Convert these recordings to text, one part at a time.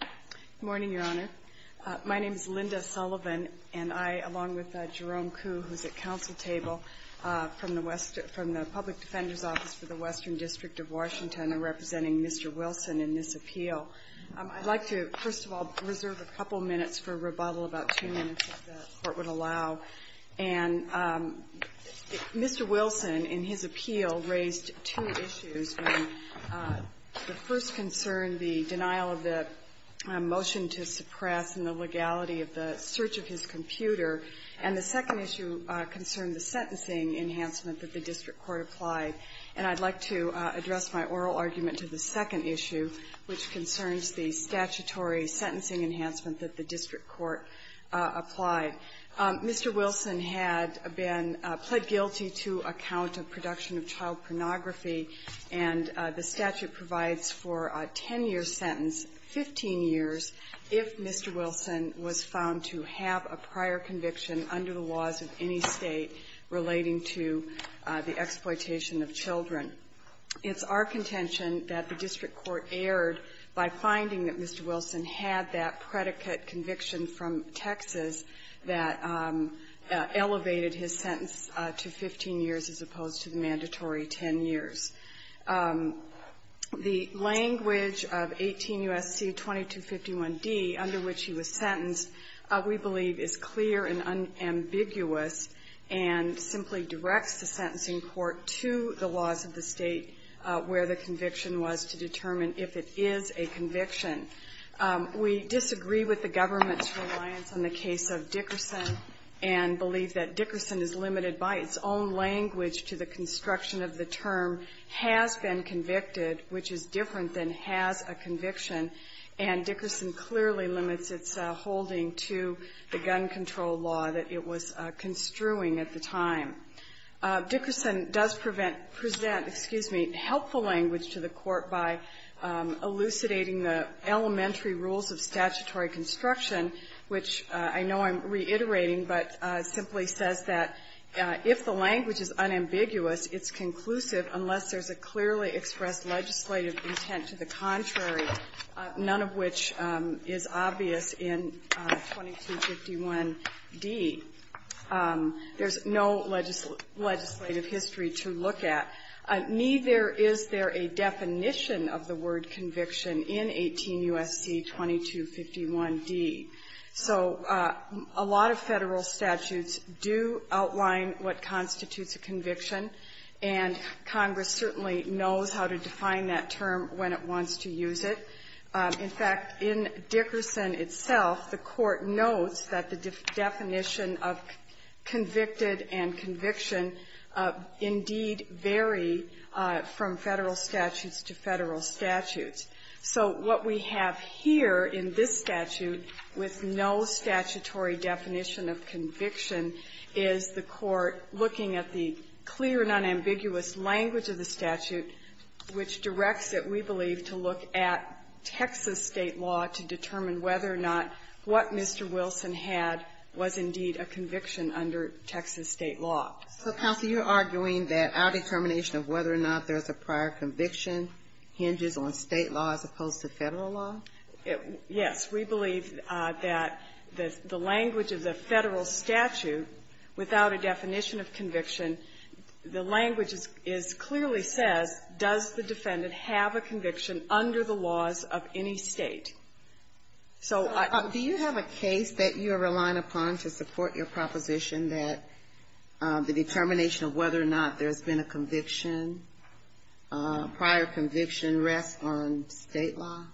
Good morning, Your Honor. My name's Linda Sullivan, and I, along with Jerome Kuh, who's at counsel table from the Public Defender's Office for the Western District of Washington, are representing Mr. Wilson in this appeal. I'd like to, first of all, reserve a couple minutes for rebuttal, about two minutes, if the Court would allow. And Mr. Wilson, in his appeal, raised two issues. The first concern, the denial of the motion to suppress and the legality of the search of his computer, and the second issue concerned the sentencing enhancement that the district court applied. And I'd like to address my oral argument to the second issue, which concerns the statutory sentencing enhancement that the district court applied. Mr. Wilson had been plead guilty to a count of production of child pornography, and the statute provides for a 10-year sentence, 15 years, if Mr. Wilson was found to have a prior conviction under the laws of any State relating to the exploitation of children. It's our contention that the district court erred by finding that Mr. Wilson did not have that conviction from Texas that elevated his sentence to 15 years as opposed to the mandatory 10 years. The language of 18 U.S.C. 2251d, under which he was sentenced, we believe is clear and unambiguous and simply directs the sentencing court to the laws of the State where the conviction was to determine if it is a conviction. We disagree with the government's reliance on the case of Dickerson and believe that Dickerson is limited by its own language to the construction of the term has been convicted, which is different than has a conviction. And Dickerson clearly limits its holding to the gun control law that it was construing at the time. Dickerson does prevent, present, excuse me, helpful language to the court by elucidating the elementary rules of statutory construction, which I know I'm reiterating, but simply says that if the language is unambiguous, it's conclusive unless there's a clearly expressed legislative intent to the contrary, none of which is obvious in 2251d. There's no legislative history to look at. Neither is there a definition of the word conviction in 18 U.S.C. 2251d. So a lot of Federal statutes do outline what constitutes a conviction, and Congress certainly knows how to define that term when it wants to use it. In fact, in Dickerson itself, the Court notes that the definition of convicted and conviction indeed vary from Federal statutes to Federal statutes. So what we have here in this statute with no statutory definition of conviction is the Court looking at the clear and unambiguous language of the statute, which Texas State law to determine whether or not what Mr. Wilson had was indeed a conviction under Texas State law. Ginsburg. So, counsel, you're arguing that our determination of whether or not there's a prior conviction hinges on State law as opposed to Federal law? Yes. We believe that the language of the Federal statute, without a definition of conviction, the language is clearly says, does the defendant have a conviction under the laws of any State? So I don't know. Do you have a case that you're relying upon to support your proposition that the determination of whether or not there's been a conviction, prior conviction, rests on State law?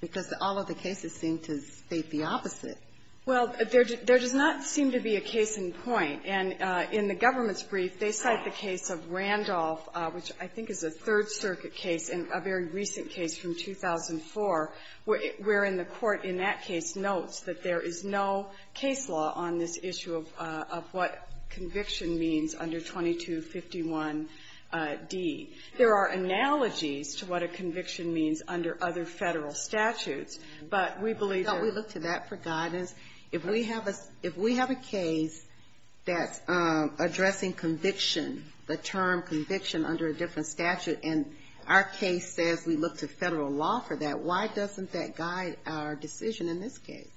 Because all of the cases seem to state the opposite. Well, there does not seem to be a case in point. And in the government's brief, they cite the case of Randolph, which I think is a Third Circuit case and a very recent case from 2004, where in the Court in that case notes that there is no case law on this issue of what conviction means under 2251d. There are analogies to what a conviction means under other Federal statutes, but we believe that we look to that for guidance. If we have a case that's addressing conviction, the term conviction under a different statute, and our case says we look to Federal law for that, why doesn't that guide our decision in this case?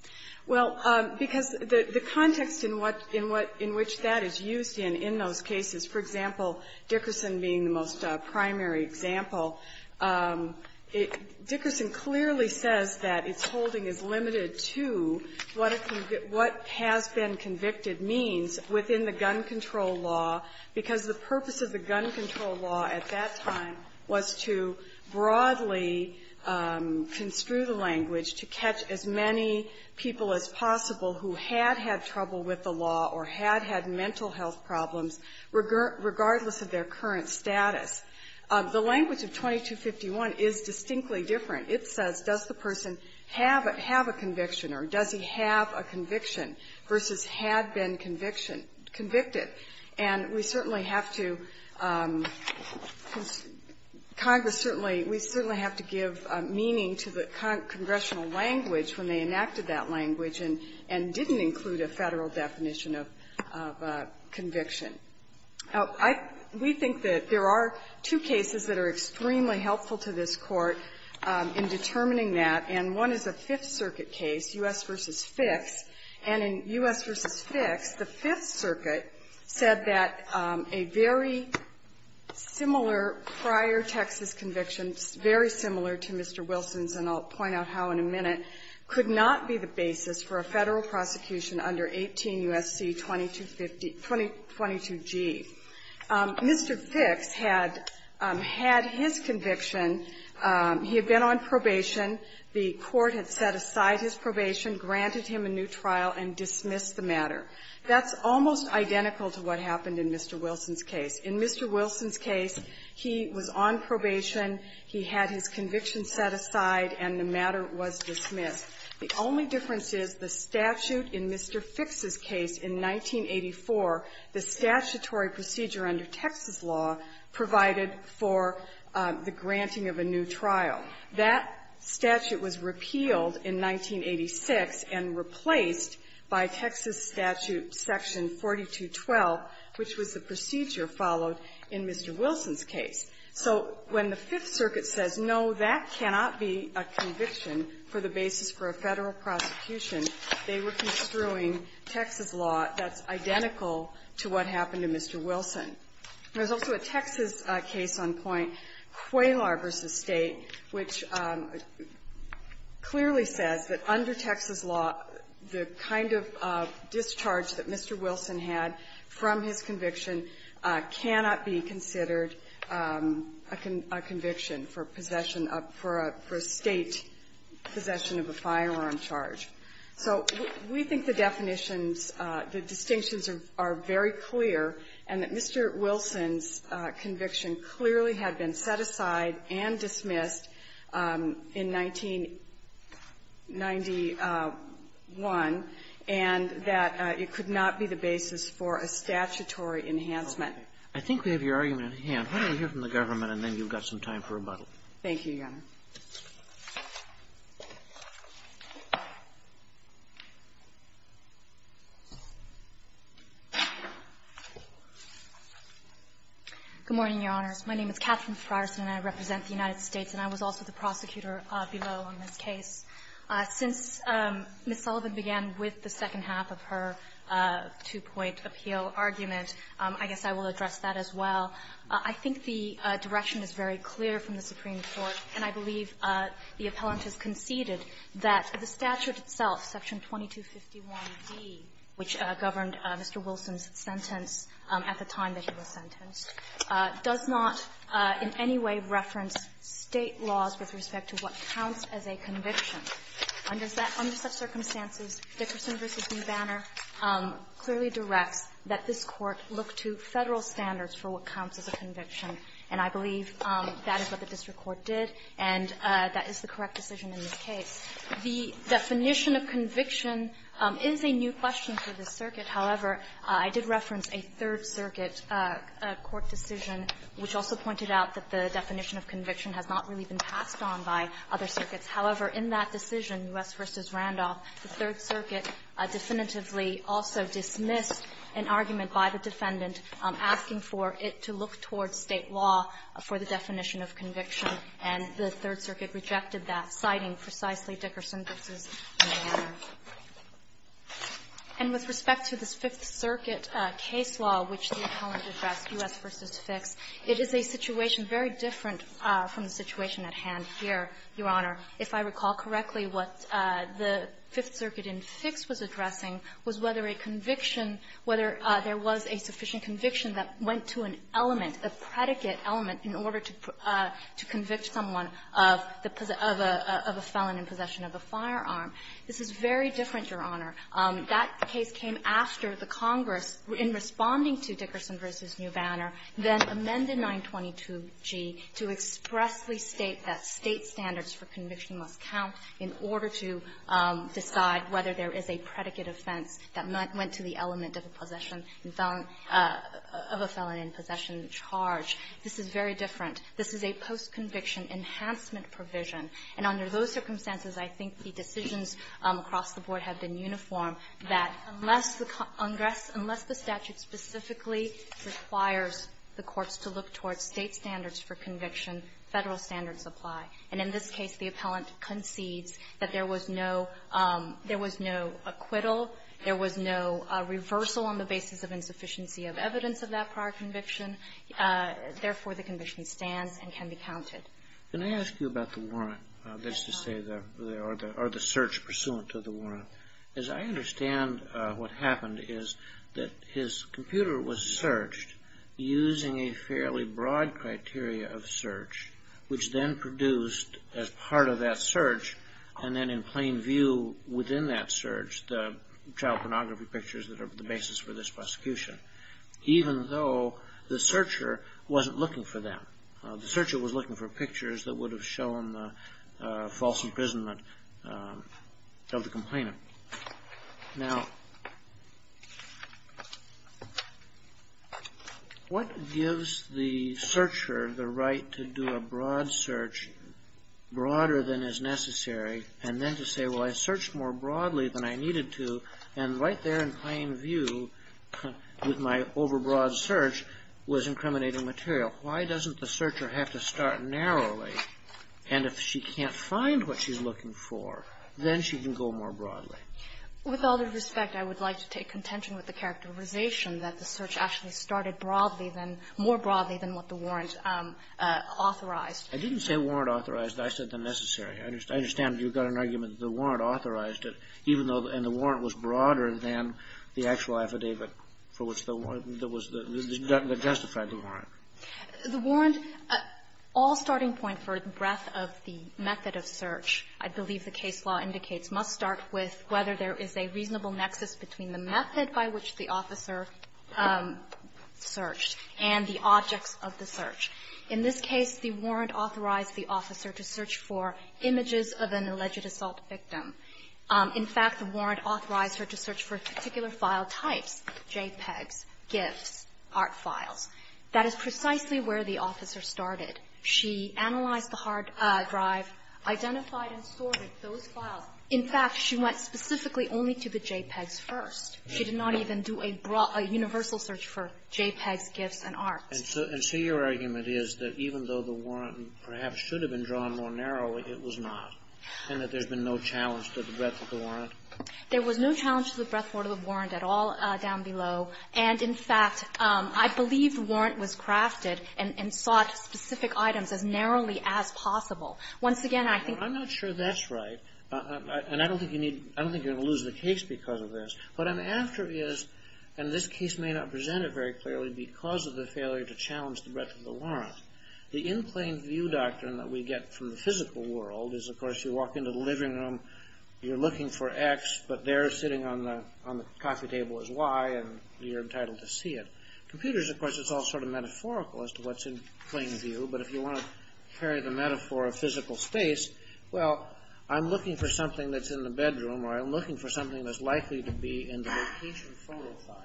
Well, because the context in what that is used in in those cases, for example, Dickerson being the most primary example, Dickerson clearly says that its holding is limited to what has been convicted means within the gun control law, because the purpose of the gun control law at that time was to broadly construe the language to catch as many people as possible who had had trouble with the law or had had mental health problems, regardless of their current status. The language of 2251 is distinctly different. It says, does the person have a conviction, or does he have a conviction, versus had been conviction or convicted. And we certainly have to – Congress certainly – we certainly have to give meaning to the congressional language when they enacted that language and didn't include a Federal definition of conviction. We think that there are two cases that are extremely helpful to this Court in the determining that, and one is a Fifth Circuit case, U.S. v. Fixx. And in U.S. v. Fixx, the Fifth Circuit said that a very similar prior Texas conviction, very similar to Mr. Wilson's, and I'll point out how in a minute, could not be the basis for a Federal prosecution under 18 U.S.C. 2250 – 22g. Mr. Fixx had had his conviction. He had been on probation. The Court had set aside his probation, granted him a new trial, and dismissed the matter. That's almost identical to what happened in Mr. Wilson's case. In Mr. Wilson's case, he was on probation. He had his conviction set aside, and the matter was dismissed. The only difference is the statute in Mr. Fixx's case in 1984, the statutory procedure under Texas law provided for the granting of a new trial. That statute was repealed in 1986 and replaced by Texas statute section 4212, which was the procedure followed in Mr. Wilson's case. So when the Fifth Circuit says, no, that cannot be a conviction for the basis for a Federal prosecution, they were construing Texas law that's identical to what happened to Mr. Wilson. There's also a Texas case on point, Quaylor v. State, which clearly says that under Texas law, the kind of discharge that Mr. Wilson had from his conviction cannot be considered a conviction for possession of – for a State possession of a firearm charge. So we think the definitions, the distinctions are very clear, and that Mr. Wilson's conviction clearly had been set aside and dismissed in 1991, and that it could not be the basis for a statutory enhancement. I think we have your argument at hand. Why don't we hear from the government, and then you've got some time for rebuttal. Thank you, Your Honor. Good morning, Your Honors. My name is Catherine Frierson, and I represent the United States, and I was also the prosecutor below on this case. Since Ms. Sullivan began with the second half of her two-point appeal argument, I guess I will address that as well. I think the direction is very clear from the Supreme Court, and I believe the appellant has conceded that the statute itself, Section 2251d, which governed Mr. Wilson's sentence at the time that he was sentenced, does not in any way reference State laws with respect to what counts as a conviction. Under such circumstances, Dickerson v. Banner clearly directs that this Court look to Federal standards for what counts as a conviction, and I believe that is what the district court did, and that is the correct decision in this case. The definition of conviction is a new question for this circuit. However, I did reference a Third Circuit court decision which also pointed out that the definition of conviction has not really been passed on by other circuits. However, in that decision, U.S. v. Randolph, the Third Circuit definitively also dismissed an argument by the defendant asking for it to look towards State law for the definition of conviction, and the Third Circuit rejected that, citing precisely Dickerson v. Banner. And with respect to this Fifth Circuit case law, which the appellant addressed, U.S. v. Fick's, it is a situation very different from the situation at hand here, Your Honor. If I recall correctly, what the Fifth Circuit in Fick's was addressing was whether a conviction, whether there was a sufficient conviction that went to an element, a predicate element, in order to convict someone of the felon in possession of a firearm. This is very different, Your Honor. That case came after the Congress, in responding to Dickerson v. Banner, then amended 922g to expressly state that State standards for conviction must count in order to decide whether there is a predicate offense that went to the element of a possession of a felon in possession of a charge. This is very different. This is a post-conviction enhancement provision. And under those circumstances, I think the decisions across the board have been uniform, that unless the Congress, unless the statute specifically requires the courts to look towards State standards for conviction, Federal standards apply. And in this case, the appellant concedes that there was no – there was no acquittal, there was no reversal on the basis of insufficiency of evidence of that prior conviction. Therefore, the conviction stands and can be counted. Can I ask you about the warrant, that is to say the – or the search pursuant to the warrant? As I understand what happened is that his computer was searched using a fairly broad criteria of search, which then produced, as part of that search and then in plain view within that search, the child pornography pictures that are the basis for this prosecution, even though the searcher wasn't looking for them. The searcher was looking for pictures that would have shown the false imprisonment of the complainant. Now, what gives the searcher the right to do a broad search, broader than is necessary, and then to say, well, I searched more broadly than I needed to, and right there in plain view with my over-broad search was incriminating material? Why doesn't the searcher have to start narrowly, and if she can't find what she's looking for, then she can go more broadly? With all due respect, I would like to take contention with the characterization that the search actually started broadly than – more broadly than what the warrant authorized. I didn't say warrant authorized. I said the necessary. I understand you've got an argument that the warrant authorized it, even though the – and the warrant was broader than the actual affidavit for which the warrant that was the – that justified the warrant. The warrant – all starting point for the breadth of the method of search, I believe the case law indicates, must start with whether there is a reasonable nexus between the method by which the officer searched and the objects of the search. In this case, the warrant authorized the officer to search for images of an alleged assault victim. In fact, the warrant authorized her to search for particular file types, JPEGs, GIFs, ART files. That is precisely where the officer started. She analyzed the hard drive, identified and sorted those files. In fact, she went specifically only to the JPEGs first. She did not even do a – a universal search for JPEGs, GIFs, and ART. And so your argument is that even though the warrant perhaps should have been drawn more narrowly, it was not, and that there's been no challenge to the breadth of the warrant? There was no challenge to the breadth of the warrant at all down below. And in fact, I believe the warrant was crafted and sought specific items as narrowly as possible. Once again, I think – I'm not sure that's right. And I don't think you need – I don't think you're going to lose the case because of this. What I'm after is – and this case may not present it very clearly because of the failure to challenge the breadth of the warrant. The in-plane view doctrine that we get from the physical world is, of course, you walk into the living room, you're looking for X, but there sitting on the – on the desk, you're entitled to see it. Computers, of course, it's all sort of metaphorical as to what's in-plane view. But if you want to carry the metaphor of physical space, well, I'm looking for something that's in the bedroom, or I'm looking for something that's likely to be in the location photo file.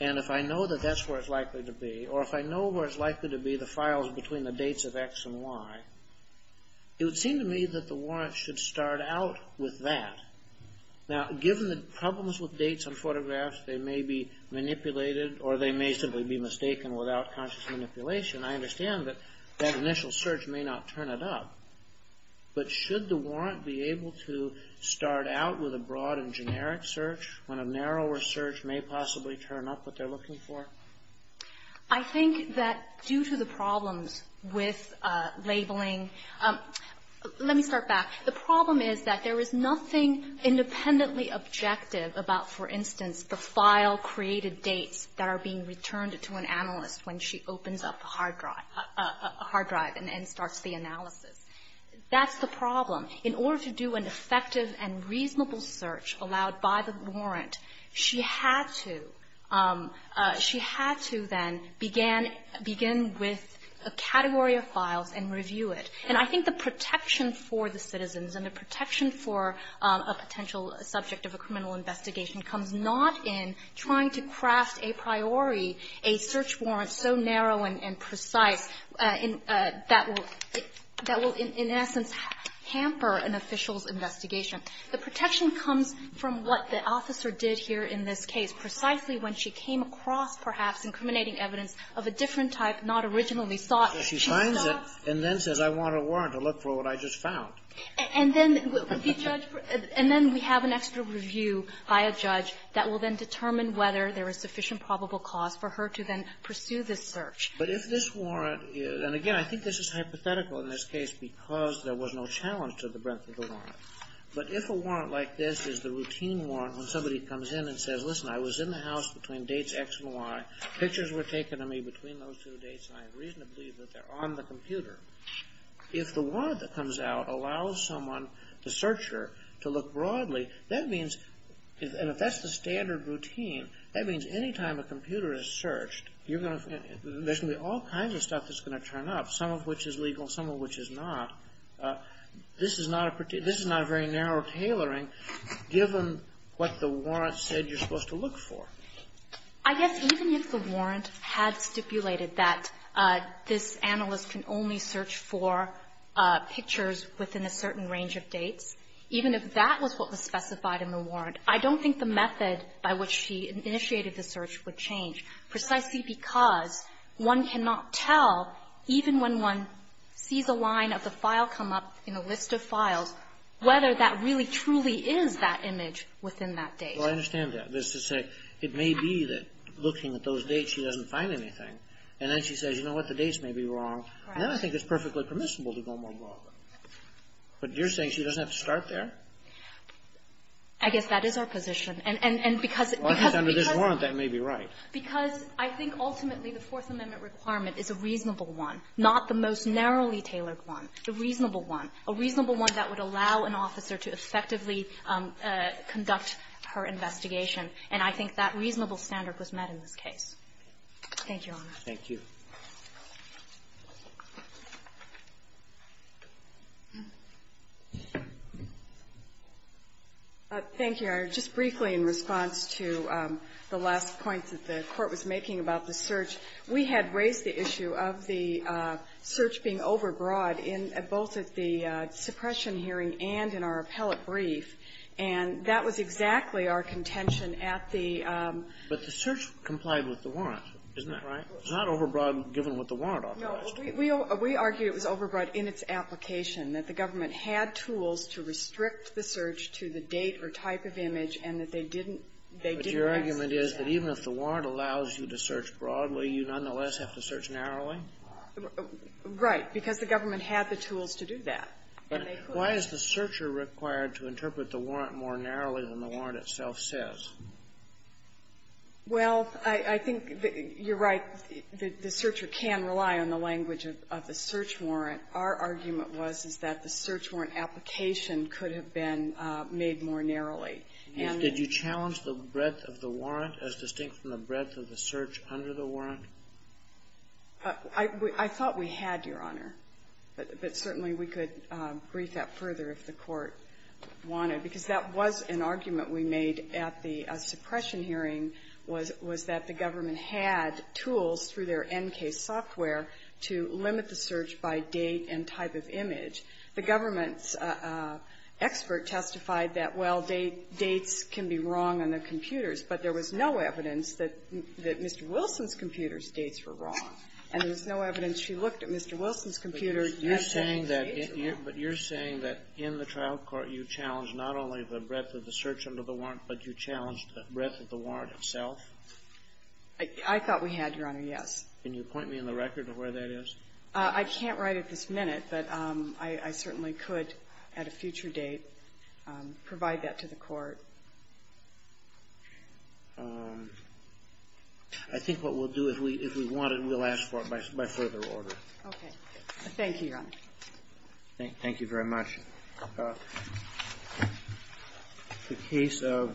And if I know that that's where it's likely to be, or if I know where it's likely to be the files between the dates of X and Y, it would seem to me that the warrant should start out with that. Now, given the problems with dates on photographs, they may be manipulated, or they may simply be mistaken without conscious manipulation. I understand that that initial search may not turn it up. But should the warrant be able to start out with a broad and generic search when a narrower search may possibly turn up what they're looking for? I think that due to the problems with labeling – let me start back. The problem is that there is nothing independently objective about, for instance, the file-created dates that are being returned to an analyst when she opens up a hard drive and starts the analysis. That's the problem. In order to do an effective and reasonable search allowed by the warrant, she had to – she had to then begin with a category of files and review it. And I think the protection for the citizens and the protection for a potential subject of a criminal investigation comes not in trying to craft a priori a search warrant so narrow and precise that will – that will, in essence, hamper an official's investigation. The protection comes from what the officer did here in this case, precisely when she came across, perhaps, incriminating evidence of a different type not originally sought. She finds it and then says, I want a warrant to look for what I just found. And then the judge – and then we have an extra review by a judge that will then determine whether there is sufficient probable cause for her to then pursue this search. But if this warrant is – and again, I think this is hypothetical in this case because there was no challenge to the breadth of the warrant. But if a warrant like this is the routine warrant when somebody comes in and says, listen, I was in the house between dates X and Y, pictures were taken of me between those two dates and I have reason to believe that they're on the computer. If the warrant that comes out allows someone, the searcher, to look broadly, that means – and if that's the standard routine, that means any time a computer is searched, you're going to – there's going to be all kinds of stuff that's going to turn up, some of which is legal, some of which is not. This is not a – this is not a very narrow tailoring given what the warrant said you're supposed to look for. I guess even if the warrant had stipulated that this analyst can only search for pictures within a certain range of dates, even if that was what was specified in the warrant, I don't think the method by which she initiated the search would change precisely because one cannot tell, even when one sees a line of the file come up in a list of files, whether that really truly is that image within that date. Well, I understand that. That's to say, it may be that looking at those dates, she doesn't find anything. And then she says, you know what, the dates may be wrong. Right. And then I think it's perfectly permissible to go more broadly. But you're saying she doesn't have to start there? I guess that is our position. And because it's under this warrant, that may be right. Because I think ultimately the Fourth Amendment requirement is a reasonable one, not the most narrowly tailored one, a reasonable one, a reasonable one that would allow an officer to effectively conduct her investigation. And I think that reasonable standard was met in this case. Thank you, Your Honor. Thank you. Thank you, Your Honor. Just briefly in response to the last point that the Court was making about the search, we had raised the issue of the search being overbroad in both of the suppression hearing and in our appellate brief. And that was exactly our contention at the ---- But the search complied with the warrant, isn't that right? It's not overbroad given what the warrant authorized. No. We argue it was overbroad in its application, that the government had tools to restrict the search to the date or type of image, and that they didn't ---- But your argument is that even if the warrant allows you to search broadly, you nonetheless have to search narrowly? Right. Because the government had the tools to do that. But why is the searcher required to interpret the warrant more narrowly than the warrant itself says? Well, I think you're right. The searcher can rely on the language of the search warrant. Our argument was, is that the search warrant application could have been made more narrowly. And the ---- Did you challenge the breadth of the warrant as distinct from the breadth of the search under the warrant? I thought we had, Your Honor. But certainly we could brief that further if the Court wanted. Because that was an argument we made at the suppression hearing, was that the government had tools through their NK software to limit the search by date and type of image. The government's expert testified that, well, dates can be wrong on the computers, but there was no evidence that Mr. Wilson's computer's dates were wrong. And there was no evidence she looked at Mr. Wilson's computer. But you're saying that in the trial court you challenged not only the breadth of the search under the warrant, but you challenged the breadth of the warrant itself? I thought we had, Your Honor, yes. Can you point me in the record to where that is? I can't write it this minute, but I certainly could at a future date provide that to the Court. I think what we'll do, if we want it, we'll ask for it by further order. Okay. Thank you, Your Honor. Thank you very much. The case of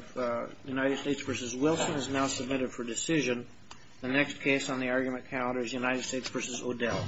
United States v. Wilson is now submitted for decision. The next case on the argument calendar is United States v. O'Dell.